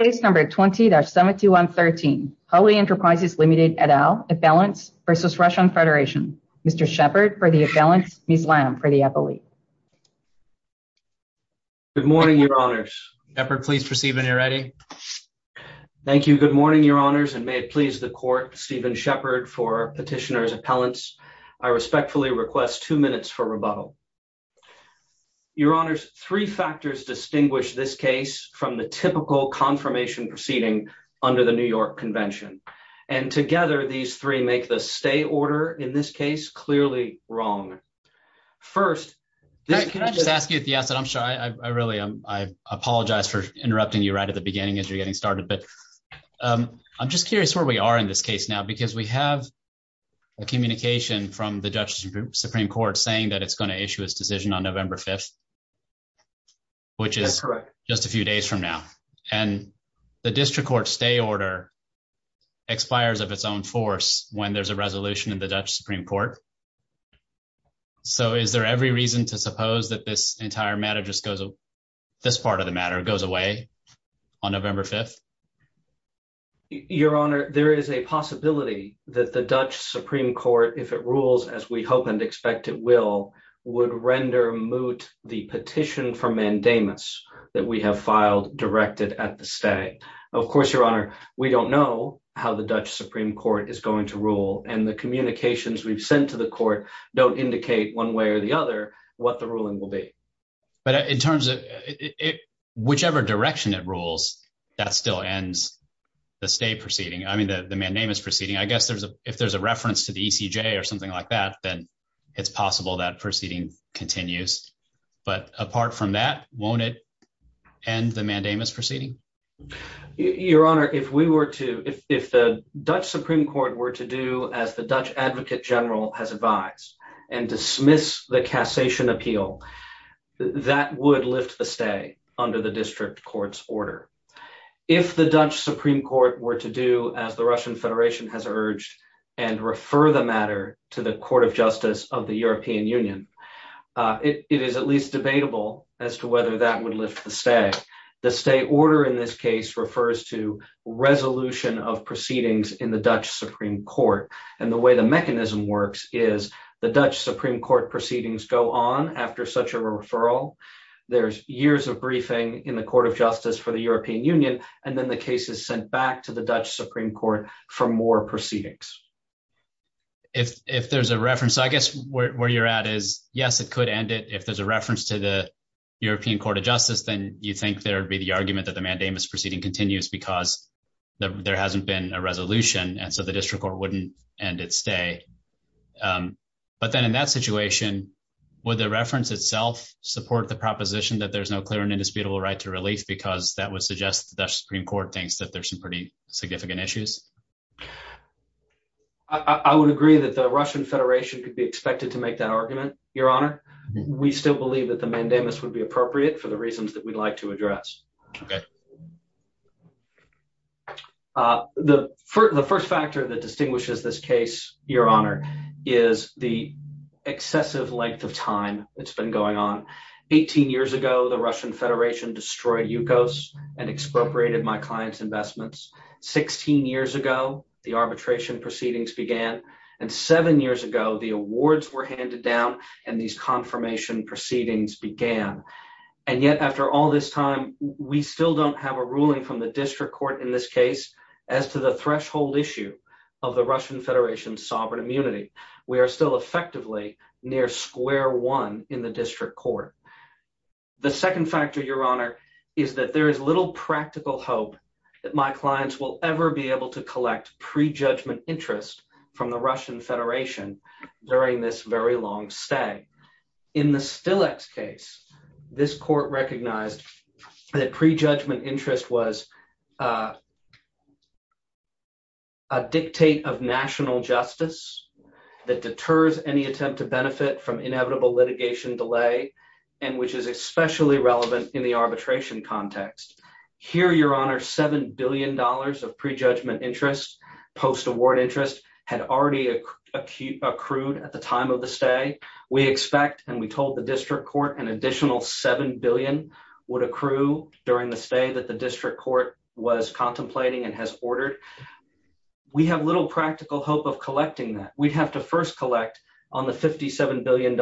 Case number 20-7113, Hulley Enterprises Ltd. et al. Appellants v. Russian Federation. Mr. Sheppard for the appellants, Ms. Lamb for the appellate. Good morning, Your Honours. Sheppard, please proceed when you're ready. Thank you. Good morning, Your Honours, and may it please the Court, Stephen Sheppard, for petitioner's appellants. I respectfully request two minutes for rebuttal. Your Honours, three factors distinguish this case from the typical confirmation proceeding under the New York Convention. And together, these three make the stay order in this case clearly wrong. First, this case- Can I just ask you at the outset, I'm sorry, I really, I apologize for interrupting you right at the beginning as you're getting started, but I'm just curious where we are in this case now, because we have a communication from the Judge Supreme Court saying that it's going to issue its decision on November 5th, which is just a few days from now. And the District Court stay order expires of its own force when there's a resolution in the Dutch Supreme Court. So is there every reason to suppose that this entire matter just goes, this part of the matter goes away on November 5th? Your Honour, there is a possibility that the Dutch Supreme Court, if it rules as we hope and expect it will, would render moot the petition for mandamus that we have filed directed at the stay. Of course, Your Honour, we don't know how the Dutch Supreme Court is going to rule and the communications we've sent to the court don't indicate one way or the other what the ruling will be. But in terms of whichever direction it rules, that still ends the stay proceeding. I mean, the mandamus proceeding, I guess if there's a reference to the ECJ or something like that, then it's possible that proceeding continues. But apart from that, won't it end the mandamus proceeding? Your Honour, if we were to, if the Dutch Supreme Court were to do as the Dutch Advocate General has advised and dismiss the cassation appeal, that would lift the stay under the District Court's order. If the Dutch Supreme Court were to do as the Russian Federation has urged and refer the matter to the Court of Justice of the European Union, it is at least debatable as to whether that would lift the stay. The stay order in this case refers to resolution of proceedings in the Dutch Supreme Court. And the way the mechanism works is the Dutch Supreme Court proceedings go on after such a referral. There's years of briefing in the Court of Justice for the European Union, and then the case is sent back to the Dutch Supreme Court for more proceedings. If there's a reference, I guess where you're at is, yes, it could end it. If there's a reference to the European Court of Justice, then you think there'd be the argument that the mandamus proceeding continues because there hasn't been a resolution, and so the District Court wouldn't end its stay. But then in that situation, would the reference itself support the proposition that there's no clear and indisputable right to relief because that would suggest the Dutch Supreme Court thinks that there's some pretty significant issues? I would agree that the Russian Federation could be expected to make that argument, Your Honor. We still believe that the mandamus would be appropriate for the reasons that we'd like to address. The first factor that distinguishes this case, Your Honor, is the excessive length of time that's been going on. Eighteen years ago, the Russian Federation destroyed Yukos and 16 years ago, the arbitration proceedings began, and seven years ago, the awards were handed down and these confirmation proceedings began. And yet, after all this time, we still don't have a ruling from the District Court in this case as to the threshold issue of the Russian Federation's sovereign immunity. We are still effectively near square one in the District Court. The second factor, Your Honor, is that there is little practical hope that my clients will be able to collect pre-judgment interest from the Russian Federation during this very long stay. In the Stilex case, this court recognized that pre-judgment interest was a dictate of national justice that deters any attempt to benefit from inevitable litigation delay and which is especially relevant in the arbitration context. Here, Your Honor, $7 billion of pre-judgment interest, post-award interest, had already accrued at the time of the stay. We expect and we told the District Court an additional $7 billion would accrue during the stay that the District Court was contemplating and has ordered. We have little practical hope of collecting that. We'd have to first collect on the $57 billion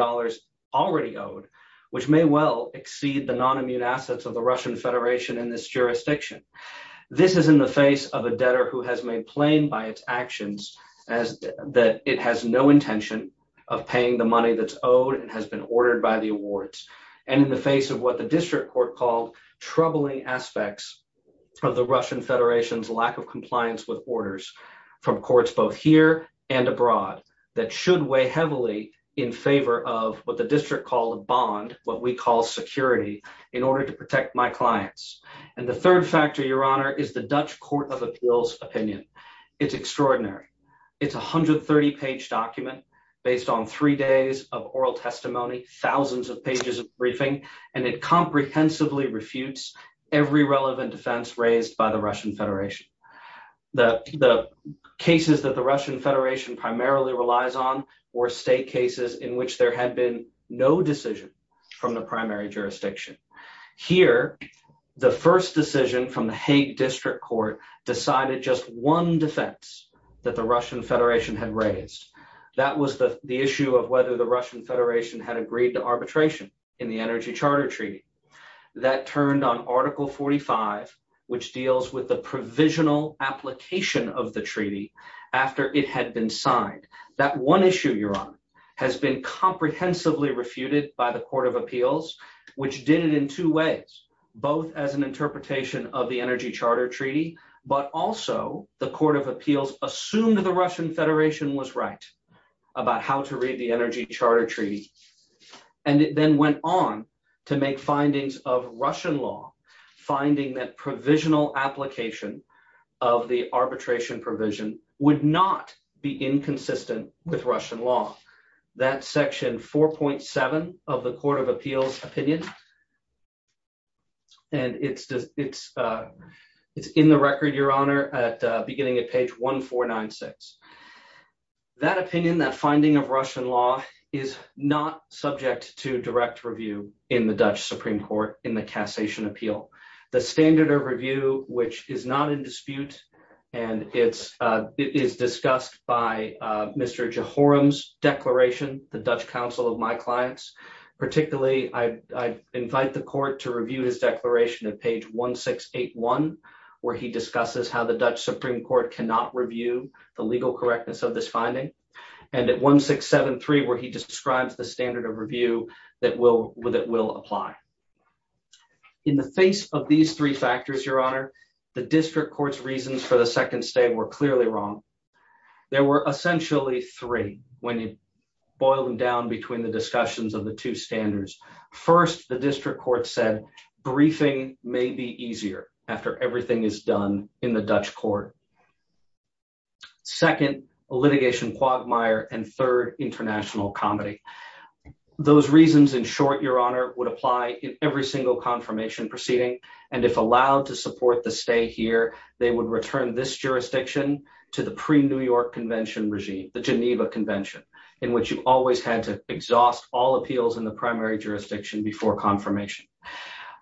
already owed, which may well exceed the non-immune assets of the Russian Federation in this case. This is in the face of a debtor who has made plain by its actions that it has no intention of paying the money that's owed and has been ordered by the awards and in the face of what the District Court called troubling aspects of the Russian Federation's lack of compliance with orders from courts both here and abroad that should weigh heavily in favor of what the District called a bond, what we call security, in order to protect my clients. And the third factor, Your Honor, is the Dutch Court of Appeals opinion. It's extraordinary. It's a 130-page document based on three days of oral testimony, thousands of pages of briefing, and it comprehensively refutes every relevant defense raised by the Russian Federation. The cases that the Russian Federation primarily relies on were state the first decision from the Hague District Court decided just one defense that the Russian Federation had raised. That was the issue of whether the Russian Federation had agreed to arbitration in the Energy Charter Treaty. That turned on Article 45, which deals with the provisional application of the treaty after it had been signed. That one issue, has been comprehensively refuted by the Court of Appeals, which did it in two ways, both as an interpretation of the Energy Charter Treaty, but also the Court of Appeals assumed that the Russian Federation was right about how to read the Energy Charter Treaty. And it then went on to make findings of Russian law, finding that provisional application of the arbitration provision would not be inconsistent with Russian law. That's section 4.7 of the Court of Appeals opinion. And it's in the record, Your Honor, beginning at page 1496. That opinion, that finding of Russian law is not subject to direct review in the Dutch Supreme Court in the Cassation Appeal. The standard of review, which is not in dispute, and it is discussed by Mr. Jehoram's declaration, the Dutch counsel of my clients, particularly I invite the court to review his declaration at page 1681, where he discusses how the Dutch Supreme Court cannot review the legal correctness of this finding. And at 1673, where he describes the standard of review that will apply. In the face of these three factors, Your Honor, the district court's reasons for the second state were clearly wrong. There were essentially three when you boil them down between the discussions of the two standards. First, the district court said briefing may be easier after everything is done in the Dutch court. Second, litigation quagmire and third, international comedy. Those reasons, in short, Your Honor, would apply in every single confirmation proceeding. And if allowed to support the stay here, they would return this jurisdiction to the pre-New York Convention regime, the Geneva Convention, in which you always had to exhaust all appeals in the primary jurisdiction before confirmation.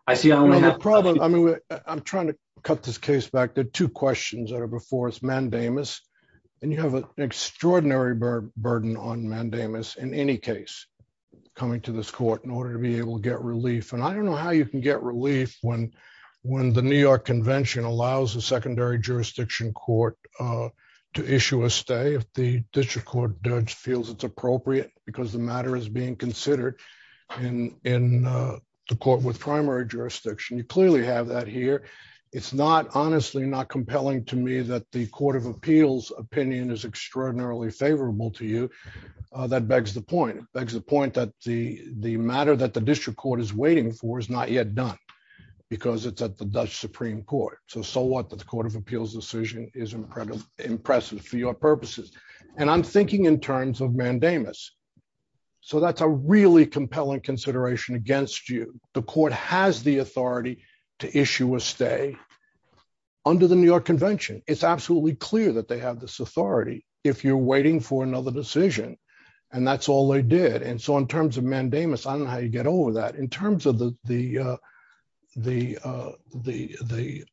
I see I'm going to have a problem. I mean, I'm trying to cut this case back to two questions that are before us. Mandamus, and you have an extraordinary burden on Mandamus in any case, coming to this court in order to be able to get relief. And I don't know how you can get relief when the New York Convention allows a secondary jurisdiction court to issue a stay if the district court judge feels it's appropriate because the matter is being considered in the court with primary jurisdiction. You clearly have that here. It's not, honestly, not compelling to me that the Court of Appeals opinion is extraordinarily favorable to you. That begs the point. Begs the point that the matter that the district court is waiting for is not yet done because it's at the Dutch Supreme Court. So, so what? The Court of Appeals decision is impressive for your purposes. And I'm thinking in terms of Mandamus. So, that's a really compelling consideration against you. The authority to issue a stay under the New York Convention. It's absolutely clear that they have this authority if you're waiting for another decision. And that's all they did. And so, in terms of Mandamus, I don't know how you get over that. In terms of the, the, the, the,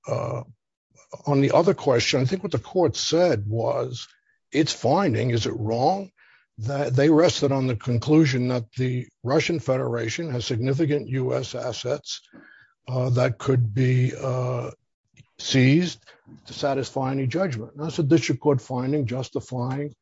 on the other question, I think what the court said was it's finding, is it wrong? That they rested on the conclusion that the Russian Federation has significant U.S. assets that could be seized to satisfy any judgment. That's a district court finding justifying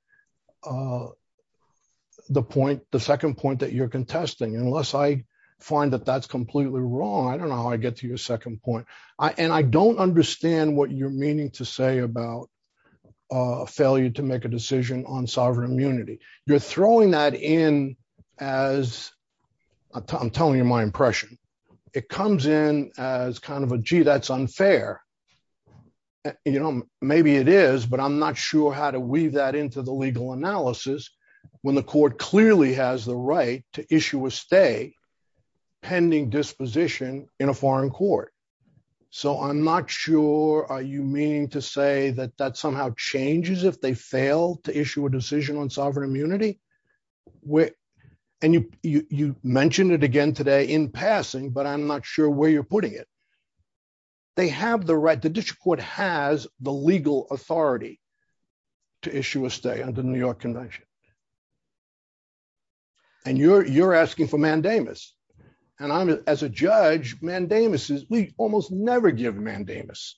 the point, the second point that you're contesting. Unless I find that that's completely wrong, I don't know how I get to your second point. I, and I don't understand what you're meaning to say about failure to make a decision on sovereign immunity. You're throwing that in as, I'm telling you my impression. It comes in as kind of a, gee, that's unfair. You know, maybe it is, but I'm not sure how to weave that into the legal analysis when the court clearly has the right to issue a stay pending disposition in a foreign court. So, I'm not sure are you meaning to say that that somehow changes if they fail to issue a and you, you, you mentioned it again today in passing, but I'm not sure where you're putting it. They have the right, the district court has the legal authority to issue a stay under the New York convention. And you're, you're asking for mandamus and I'm, as a judge, mandamus is, we almost never give mandamus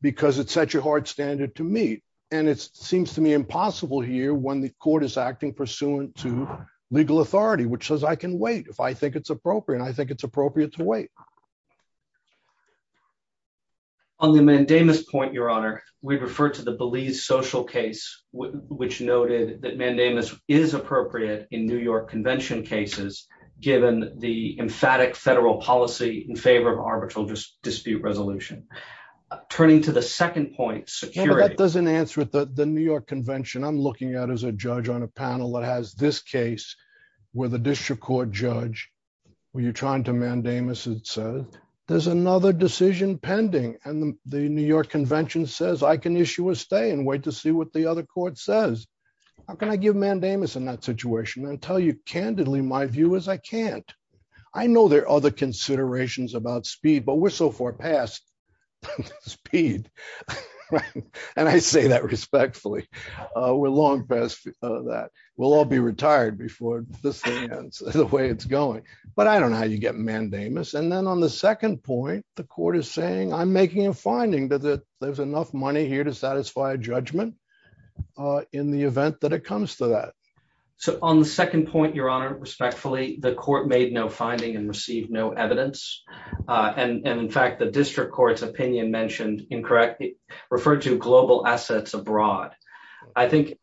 because it's such a hard standard to meet. And it seems to me possible here when the court is acting pursuant to legal authority, which says, I can wait if I think it's appropriate. I think it's appropriate to wait. On the mandamus point, your honor, we referred to the Belize social case, which noted that mandamus is appropriate in New York convention cases, given the emphatic federal policy in favor of arbitral dispute resolution, turning to the second point security. The New York convention, I'm looking at as a judge on a panel that has this case where the district court judge, when you're trying to mandamus, it says there's another decision pending. And the New York convention says I can issue a stay and wait to see what the other court says. How can I give mandamus in that situation and tell you candidly, my view is I can't, I know there are other considerations about speed, but we're so far past speed. Right. And I say that respectfully. We're long past that. We'll all be retired before this thing ends, the way it's going. But I don't know how you get mandamus. And then on the second point, the court is saying I'm making a finding that there's enough money here to satisfy judgment in the event that it comes to that. So on the second point, your honor, respectfully, the court made no finding and received no evidence. And in fact, the district court's opinion mentioned incorrectly referred to global assets abroad. I think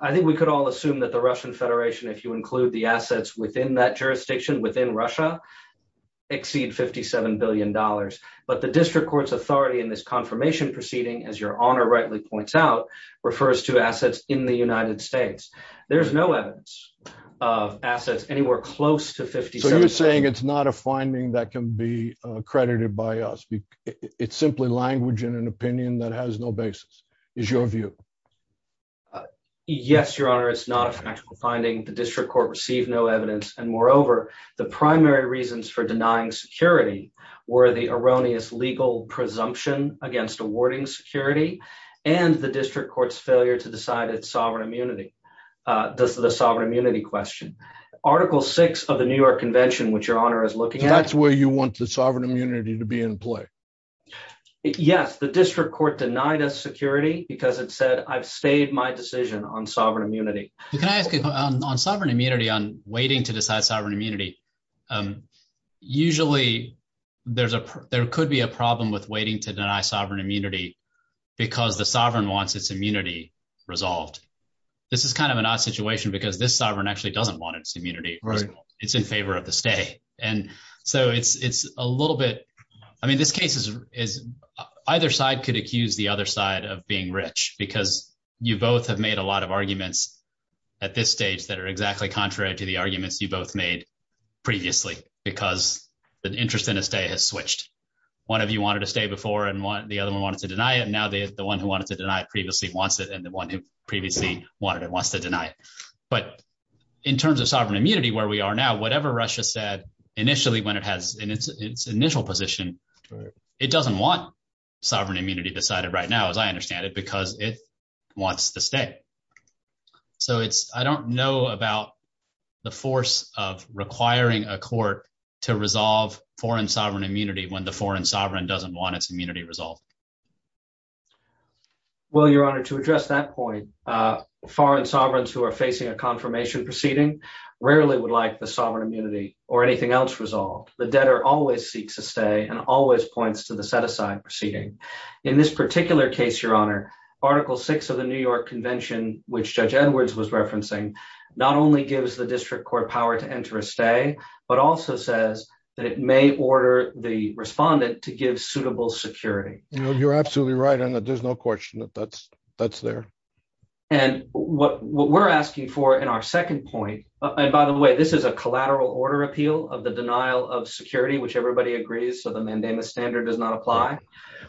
we could all assume that the Russian Federation, if you include the assets within that jurisdiction within Russia, exceed $57 billion. But the district court's authority in this confirmation proceeding, as your honor rightly points out, refers to assets in the United States. There's no evidence of assets anywhere close to 50. So you're saying it's not a finding that can be accredited by us. It's simply language in an opinion that has no basis, is your view? Yes, your honor, it's not a factual finding. The district court received no evidence. And moreover, the primary reasons for denying security were the erroneous legal presumption against awarding security and the district court's failure to decide its sovereign immunity. This is a sovereign immunity question. Article six of the New York convention, which your honor is looking at. Where you want the sovereign immunity to be in play? Yes, the district court denied us security, because it said I've stayed my decision on sovereign immunity. Can I ask you on sovereign immunity on waiting to decide sovereign immunity? Usually, there's a there could be a problem with waiting to deny sovereign immunity, because the sovereign wants its immunity resolved. This is kind of an odd situation, because this sovereign actually doesn't want its immunity, right? It's in favor of the state. And so it's it's a little bit. I mean, this case is, is either side could accuse the other side of being rich, because you both have made a lot of arguments at this stage that are exactly contrary to the arguments you both made previously, because the interest in a state has switched. One of you wanted to stay before and want the other one wanted to deny it. And now the one who wanted to deny it previously wants it and the one who previously wanted it wants to deny it. In terms of sovereign immunity, where we are now, whatever Russia said, initially, when it has its initial position, it doesn't want sovereign immunity decided right now, as I understand it, because it wants to stay. So it's I don't know about the force of requiring a court to resolve foreign sovereign immunity when the foreign sovereign doesn't want its immunity resolved. Well, Your Honor, to address that point, foreign sovereigns who are facing a confirmation proceeding, rarely would like the sovereign immunity or anything else resolved, the debtor always seeks to stay and always points to the set aside proceeding. In this particular case, Your Honor, Article Six of the New York Convention, which Judge Edwards was referencing, not only gives the district court power to enter a stay, but also says that it may order the respondent to give suitable security. You're absolutely right on that. There's no question that that's, that's there. And what we're asking for in our second point, and by the way, this is a collateral order appeal of the denial of security, which everybody agrees. So the mandamus standard does not apply.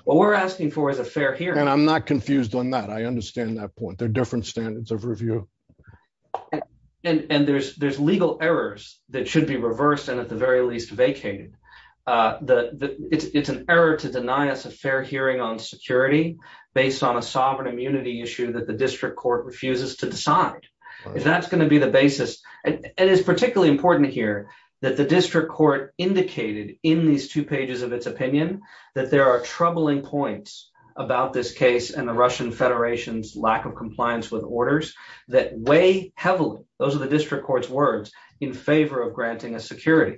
What we're asking for is a fair here. And I'm not confused on that. I understand that point. They're different standards of review. And there's legal errors that should be reversed and at the very least vacated. It's an error to deny us a fair hearing on security based on a sovereign immunity issue that the district court refuses to decide. If that's going to be the basis, and it is particularly important to hear that the district court indicated in these two pages of its opinion, that there are troubling points about this case and the Russian Federation's lack of compliance with orders that weigh heavily, those are the district court's words, in favor of granting a security.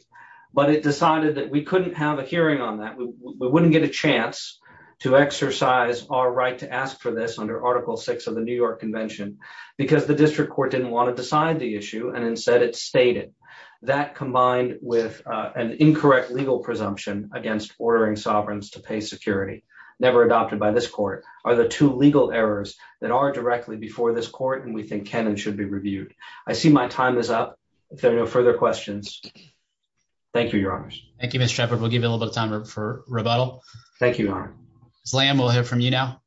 But it decided that we couldn't have hearing on that. We wouldn't get a chance to exercise our right to ask for this under article six of the New York convention, because the district court didn't want to decide the issue. And instead it stated that combined with an incorrect legal presumption against ordering sovereigns to pay security never adopted by this court are the two legal errors that are directly before this court. And we think Kenan should be reviewed. I see my time is up. If there are no for rebuttal. Thank you. Lam will hear from you now.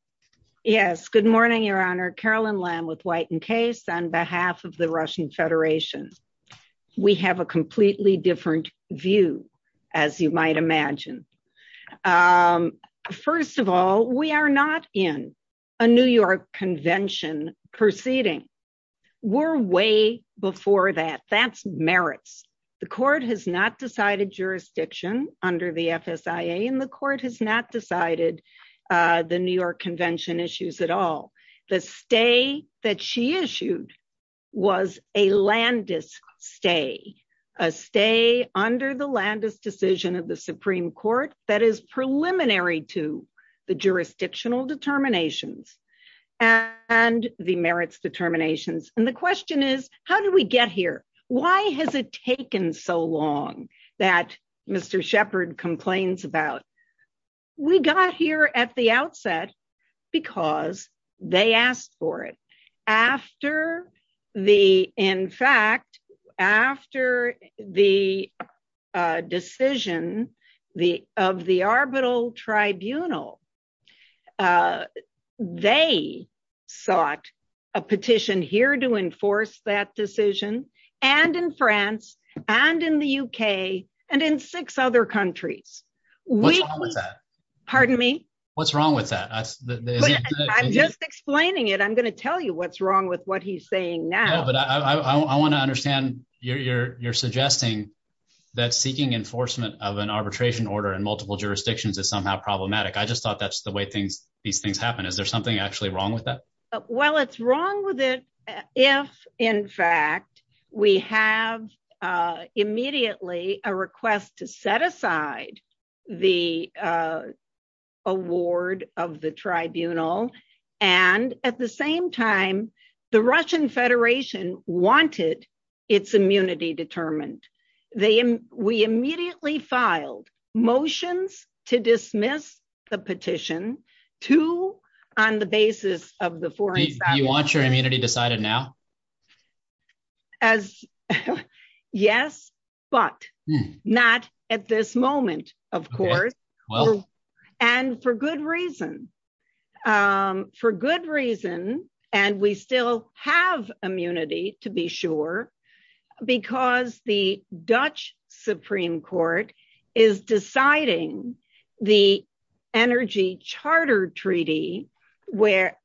Yes. Good morning, Your Honor. Carolyn Lam with White and Case on behalf of the Russian Federation. We have a completely different view, as you might imagine. First of all, we are not in a New York convention proceeding. We're way before that. That's merits. The court has not decided jurisdiction under the FSIA, and the court has not decided the New York convention issues at all. The stay that she issued was a Landis stay, a stay under the Landis decision of the Supreme Court that is preliminary to the jurisdictional determinations and the merits determinations. And the question is, how did we get here? Why has it taken so long that Mr. Shepard complains about? We got here at the outset because they asked for it. In fact, after the decision of the arbitral tribunal, they sought a petition here to enforce that decision and in France and in the UK and in six other countries. What's wrong with that? Pardon me? What's wrong with that? I'm just explaining it. I'm going to tell you what's wrong with what he's saying now. But I want to understand your you're you're suggesting that seeking enforcement of an arbitration order in multiple jurisdictions is somehow problematic. I just thought that's the way things these things happen. Is there something actually wrong with that? Well, it's wrong with it. If in fact, we have immediately a request to set aside the award of the tribunal. And at the same time, the Russian Federation wanted its immunity determined. They we immediately filed motions to dismiss the petition to on the basis of the foreign you want your immunity decided now. As yes, but not at this moment, of course. Well, and for good reason. For good reason. And we still have immunity to be sure. Because the Dutch Supreme Court is deciding the energy charter treaty, where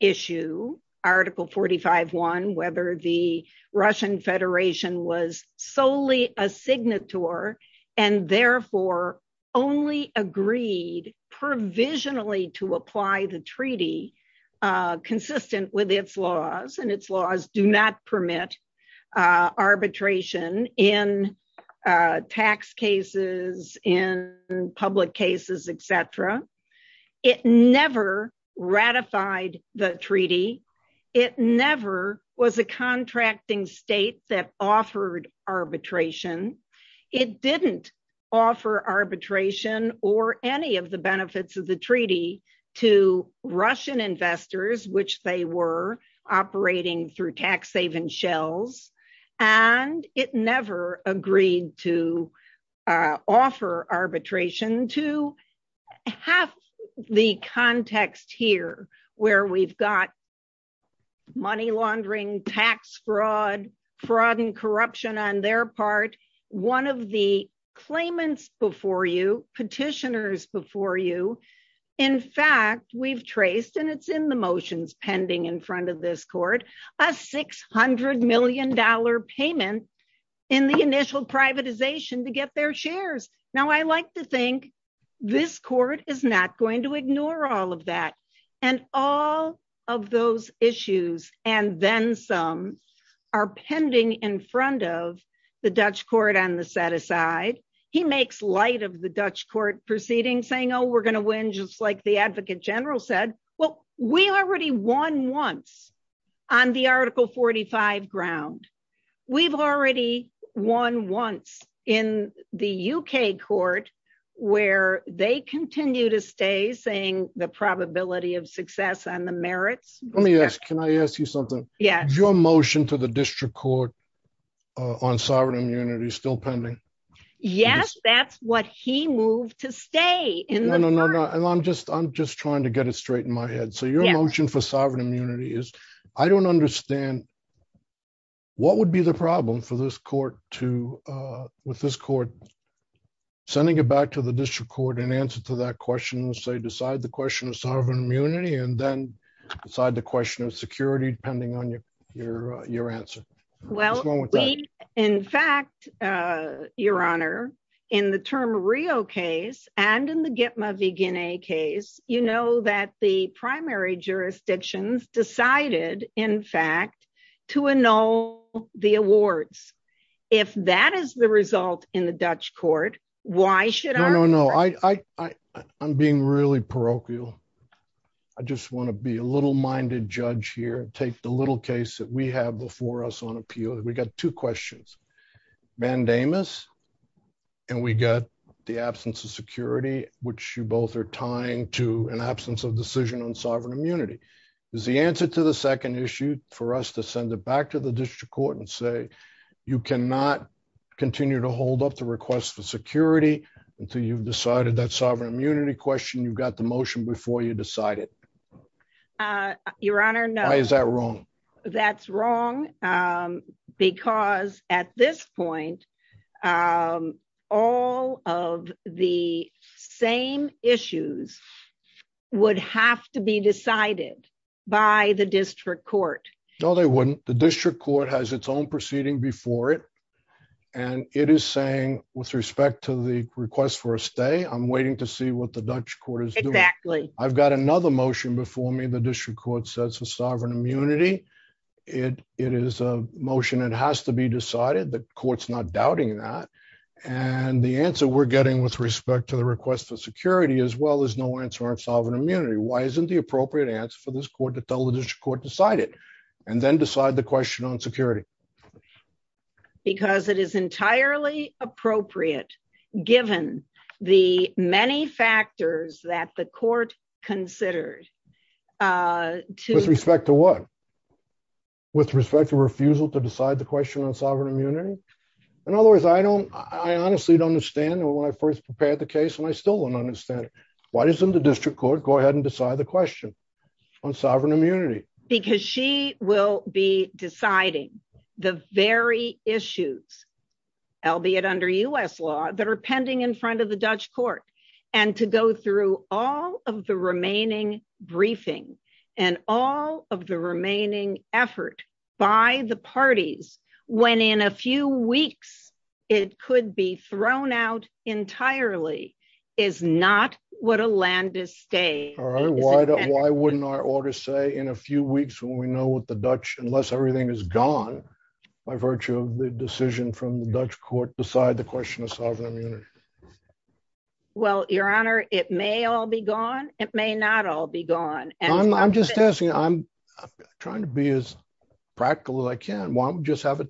issue article 45, one, whether the Russian Federation was solely a signet tour, and therefore only agreed provisionally to apply the treaty consistent with its laws and its laws do not permit arbitration in tax cases in public cases, etc. It never ratified the treaty. It never was a contracting state that offered arbitration. It didn't offer arbitration or any of the benefits of the treaty to Russian investors, which they were operating through tax haven shells. And it never agreed to offer arbitration to have the context here, where we've got money laundering tax fraud, fraud and corruption on their part. One of the claimants before you petitioners before you in fact, we've traced and it's in the motions pending in front of this court, a $600 million payment in the initial privatization to get their shares. Now, I like to think this court is not going to ignore all of that. And all of those issues, and then some are pending in front of the Dutch court on the set aside, he makes light of the Dutch court proceeding saying, we're going to win just like the advocate general said, well, we already won once on the article 45 ground. We've already won once in the UK court, where they continue to stay saying the probability of success on the merits. Let me ask, can I ask you something? Yeah, your motion to the district court on sovereign immunity still pending? Yes, that's what he moved to stay in. I'm just I'm just trying to get it straight in my head. So your motion for sovereign immunity is, I don't understand what would be the problem for this court to with this court, sending it back to the district court and answer to that question, say decide the question of sovereign immunity, and then decide the question of security, depending on your, your, your answer? Well, in fact, your honor, in the term Rio case, and in the get my vegan a case, you know that the primary jurisdictions decided, in fact, to annul the awards. If that is the result in the Dutch court, why should I know parochial? I just want to be a little minded judge here, take the little case that we have before us on appeal, we got two questions, mandamus. And we got the absence of security, which you both are tying to an absence of decision on sovereign immunity is the answer to the second issue for us to send it back to the district court and say, you cannot continue to hold up the request for security until you've decided that sovereign immunity question, you've got the motion before you decide it. Your Honor, no, is that wrong? That's wrong. Because at this point, all of the same issues would have to be decided by the district court. No, they wouldn't. The respect to the request for a stay, I'm waiting to see what the Dutch court is. Exactly. I've got another motion before me, the district court says the sovereign immunity, it, it is a motion, it has to be decided that courts not doubting that. And the answer we're getting with respect to the request for security as well as no answer on sovereign immunity. Why isn't the appropriate answer for this court to tell the district court decided and then decide the question on security? Because it is entirely appropriate, given the many factors that the court considered to respect to what? With respect to refusal to decide the question on sovereign immunity. In other words, I don't, I honestly don't understand when I first prepared the case, and I still don't understand why doesn't the district court go ahead and decide the question on sovereign immunity? Because she will be deciding the very issues, albeit under US law, that are pending in front of the Dutch court. And to go through all of the remaining briefing, and all of the remaining effort by the parties, when in a few weeks, it could be thrown out entirely, is not what a land is staying. Why wouldn't our order say in a few weeks when we know what the Dutch unless everything is gone, by virtue of the decision from the Dutch court beside the question of sovereign immunity? Well, Your Honor, it may all be gone. It may not all be gone. And I'm just asking, I'm trying to be as practical as I can. Why don't we just have it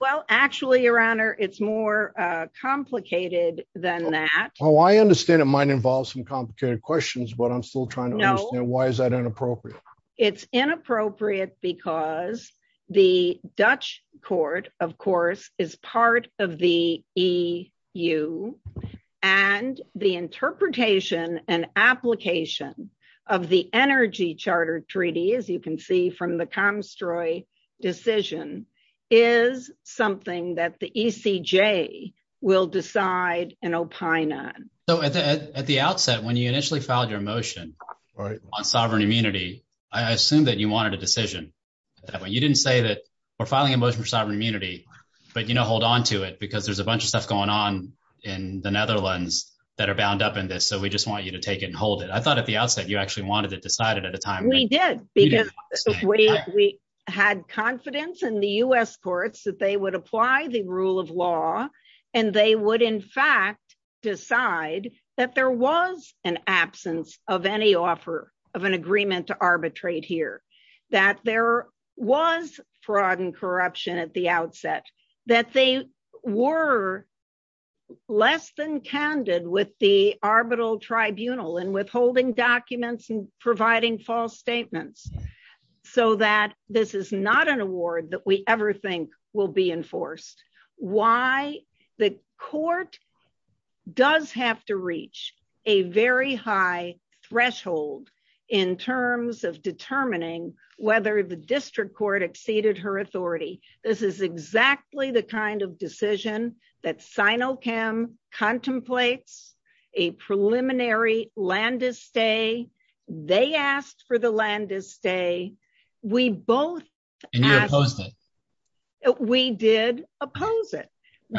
Well, actually, Your Honor, it's more complicated than that. Well, I understand it might involve some complicated questions, but I'm still trying to understand why is that inappropriate? It's inappropriate because the Dutch court, of course, is part of the EU. And the interpretation and application of the Energy Charter Treaty, as you can see from the Comstroy decision, is something that the ECJ will decide and opine on. So at the outset, when you initially filed your motion on sovereign immunity, I assume that you wanted a decision. You didn't say that we're filing a motion for sovereign immunity. But you know, hold on to it, because there's a bunch of stuff going on in the Netherlands that are bound up in this. So we just want you to take hold of it. I thought at the outset, you actually wanted to decide it at a time. We did, because we had confidence in the U.S. courts that they would apply the rule of law, and they would, in fact, decide that there was an absence of any offer of an agreement to arbitrate here, that there was fraud and corruption at the outset, that they were less than candid with the arbitral tribunal in withholding documents and providing false statements, so that this is not an award that we ever think will be enforced. Why? The court does have to reach a very high threshold in terms of determining whether the district court exceeded her authority. This is exactly the kind of decision that Sinochem contemplates, a preliminary Landis stay. They asked for the Landis stay. We both- And you opposed it. We did oppose it.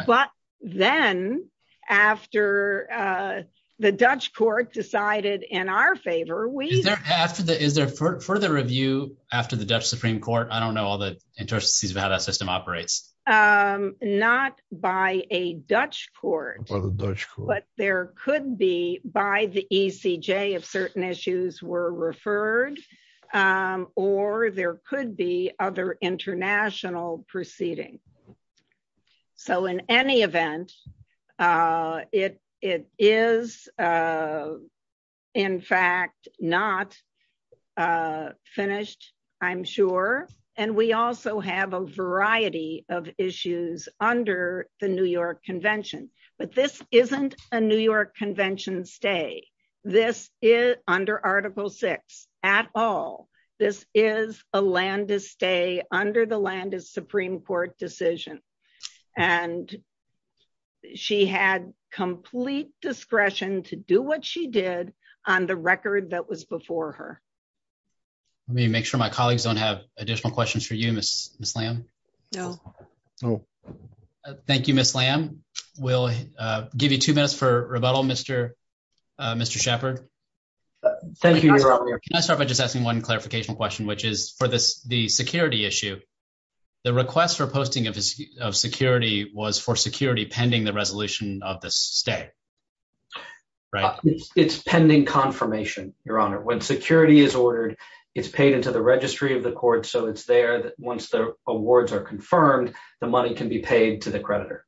But then, after the Dutch court decided in our favor, we- Is there further review after the Dutch Supreme Court? I don't know all the intricacies of how that system operates. Not by a Dutch court. By the Dutch court. But there could be by the ECJ if certain issues were referred, or there could be other international proceeding. So in any event, it is, in fact, not finished, I'm sure. And we also have a variety of issues under the New York Convention. But this isn't a New York Convention stay under Article 6 at all. This is a Landis stay under the Landis Supreme Court decision. And she had complete discretion to do what she did on the record that was before her. Let me make sure my colleagues don't have additional questions for you, Ms. Lamb. No. Thank you, Ms. Lamb. We'll give you two minutes for rebuttal, Mr. Shepherd. Thank you, Your Honor. Can I start by just asking one clarification question, which is for the security issue, the request for posting of security was for security pending the resolution of this stay, right? It's pending confirmation, Your Honor. When security is ordered, it's paid into the registry of the court. So it's there that once the awards are confirmed, the money can be paid to the creditor.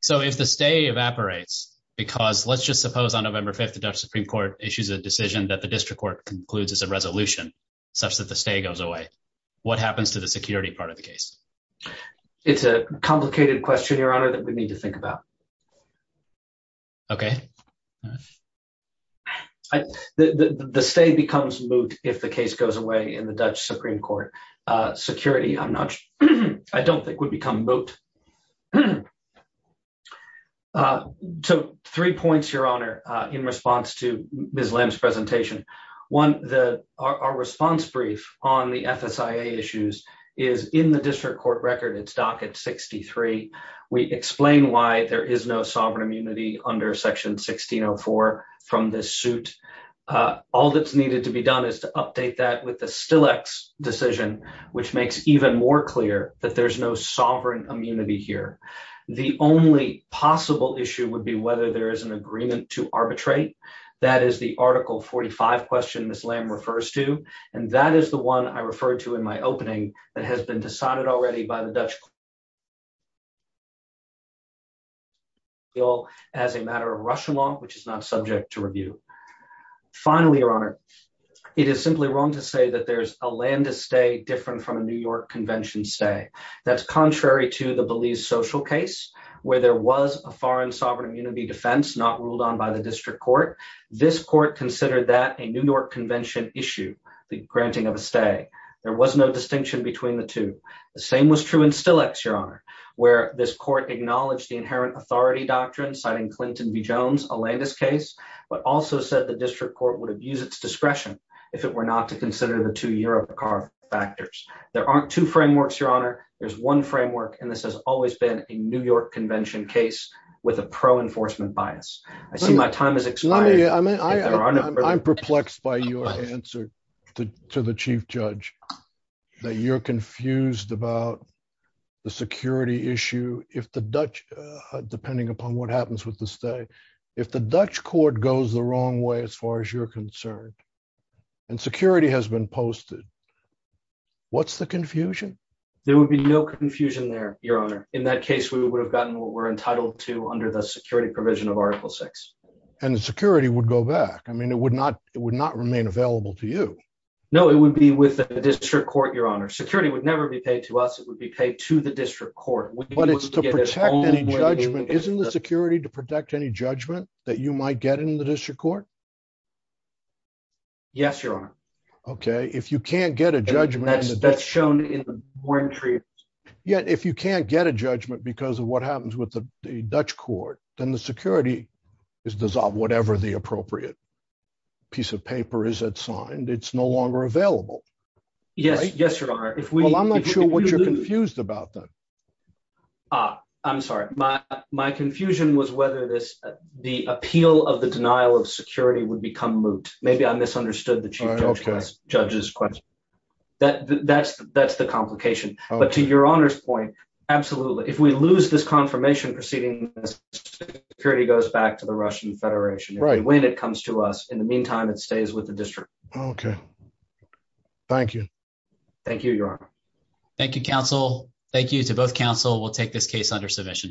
So if the stay evaporates, because let's just suppose on November 5th, the Dutch Supreme issues a decision that the district court concludes as a resolution such that the stay goes away, what happens to the security part of the case? It's a complicated question, Your Honor, that we need to think about. Okay. The stay becomes moot if the case goes away in the Dutch Supreme Court. Security, I don't think, would become moot. So three points, Your Honor, in response to Ms. Lim's presentation. One, our response brief on the FSIA issues is in the district court record. It's docket 63. We explain why there is no sovereign immunity under section 1604 from this suit. All that's needed to be done is to update that with the Stillex decision, which makes even clearer that there's no sovereign immunity here. The only possible issue would be whether there is an agreement to arbitrate. That is the article 45 question Ms. Lim refers to. And that is the one I referred to in my opening that has been decided already by the Dutch as a matter of Russia law, which is not subject to review. Finally, Your Honor, it is simply wrong to say that there's a land to stay different from a New York convention stay. That's contrary to the Belize social case, where there was a foreign sovereign immunity defense not ruled on by the district court. This court considered that a New York convention issue, the granting of a stay. There was no distinction between the two. The same was true in Stillex, Your Honor, where this court acknowledged the inherent authority doctrine, citing Clinton v. Jones, a Landis case, but also said the district court would have used its discretion if it were not to consider the two year of the car factors. There aren't two frameworks, Your Honor. There's one framework, and this has always been a New York convention case with a pro enforcement bias. I see my time is expiring. I'm perplexed by your answer to the chief judge that you're confused about the security issue if the Dutch, depending upon what happens with the stay, if the Dutch court goes the way you're concerned and security has been posted, what's the confusion? There would be no confusion there, Your Honor. In that case, we would have gotten what we're entitled to under the security provision of Article 6. And the security would go back. I mean, it would not remain available to you. No, it would be with the district court, Your Honor. Security would never be paid to us. It would be paid to the district court. But it's to protect any judgment. Isn't the security to protect any judgment that you might get in the district court? Yes, Your Honor. Okay. If you can't get a judgment. And that's shown in the warranty. Yet, if you can't get a judgment because of what happens with the Dutch court, then the security is dissolved. Whatever the appropriate piece of paper is that signed, it's no longer available. Yes. Yes, Your Honor. Well, I'm not sure what you're confused about then. I'm sorry. My confusion was whether the appeal of the denial of security would become moot. Maybe I misunderstood the Chief Judge's question. That's the complication. But to Your Honor's point, absolutely. If we lose this confirmation proceeding, security goes back to the Russian Federation. When it comes to us. In the meantime, it stays with the district. Okay. Thank you. Thank you, Your Honor. Thank you, counsel. Thank you to both counsel. We'll take this case under submission. Thank you.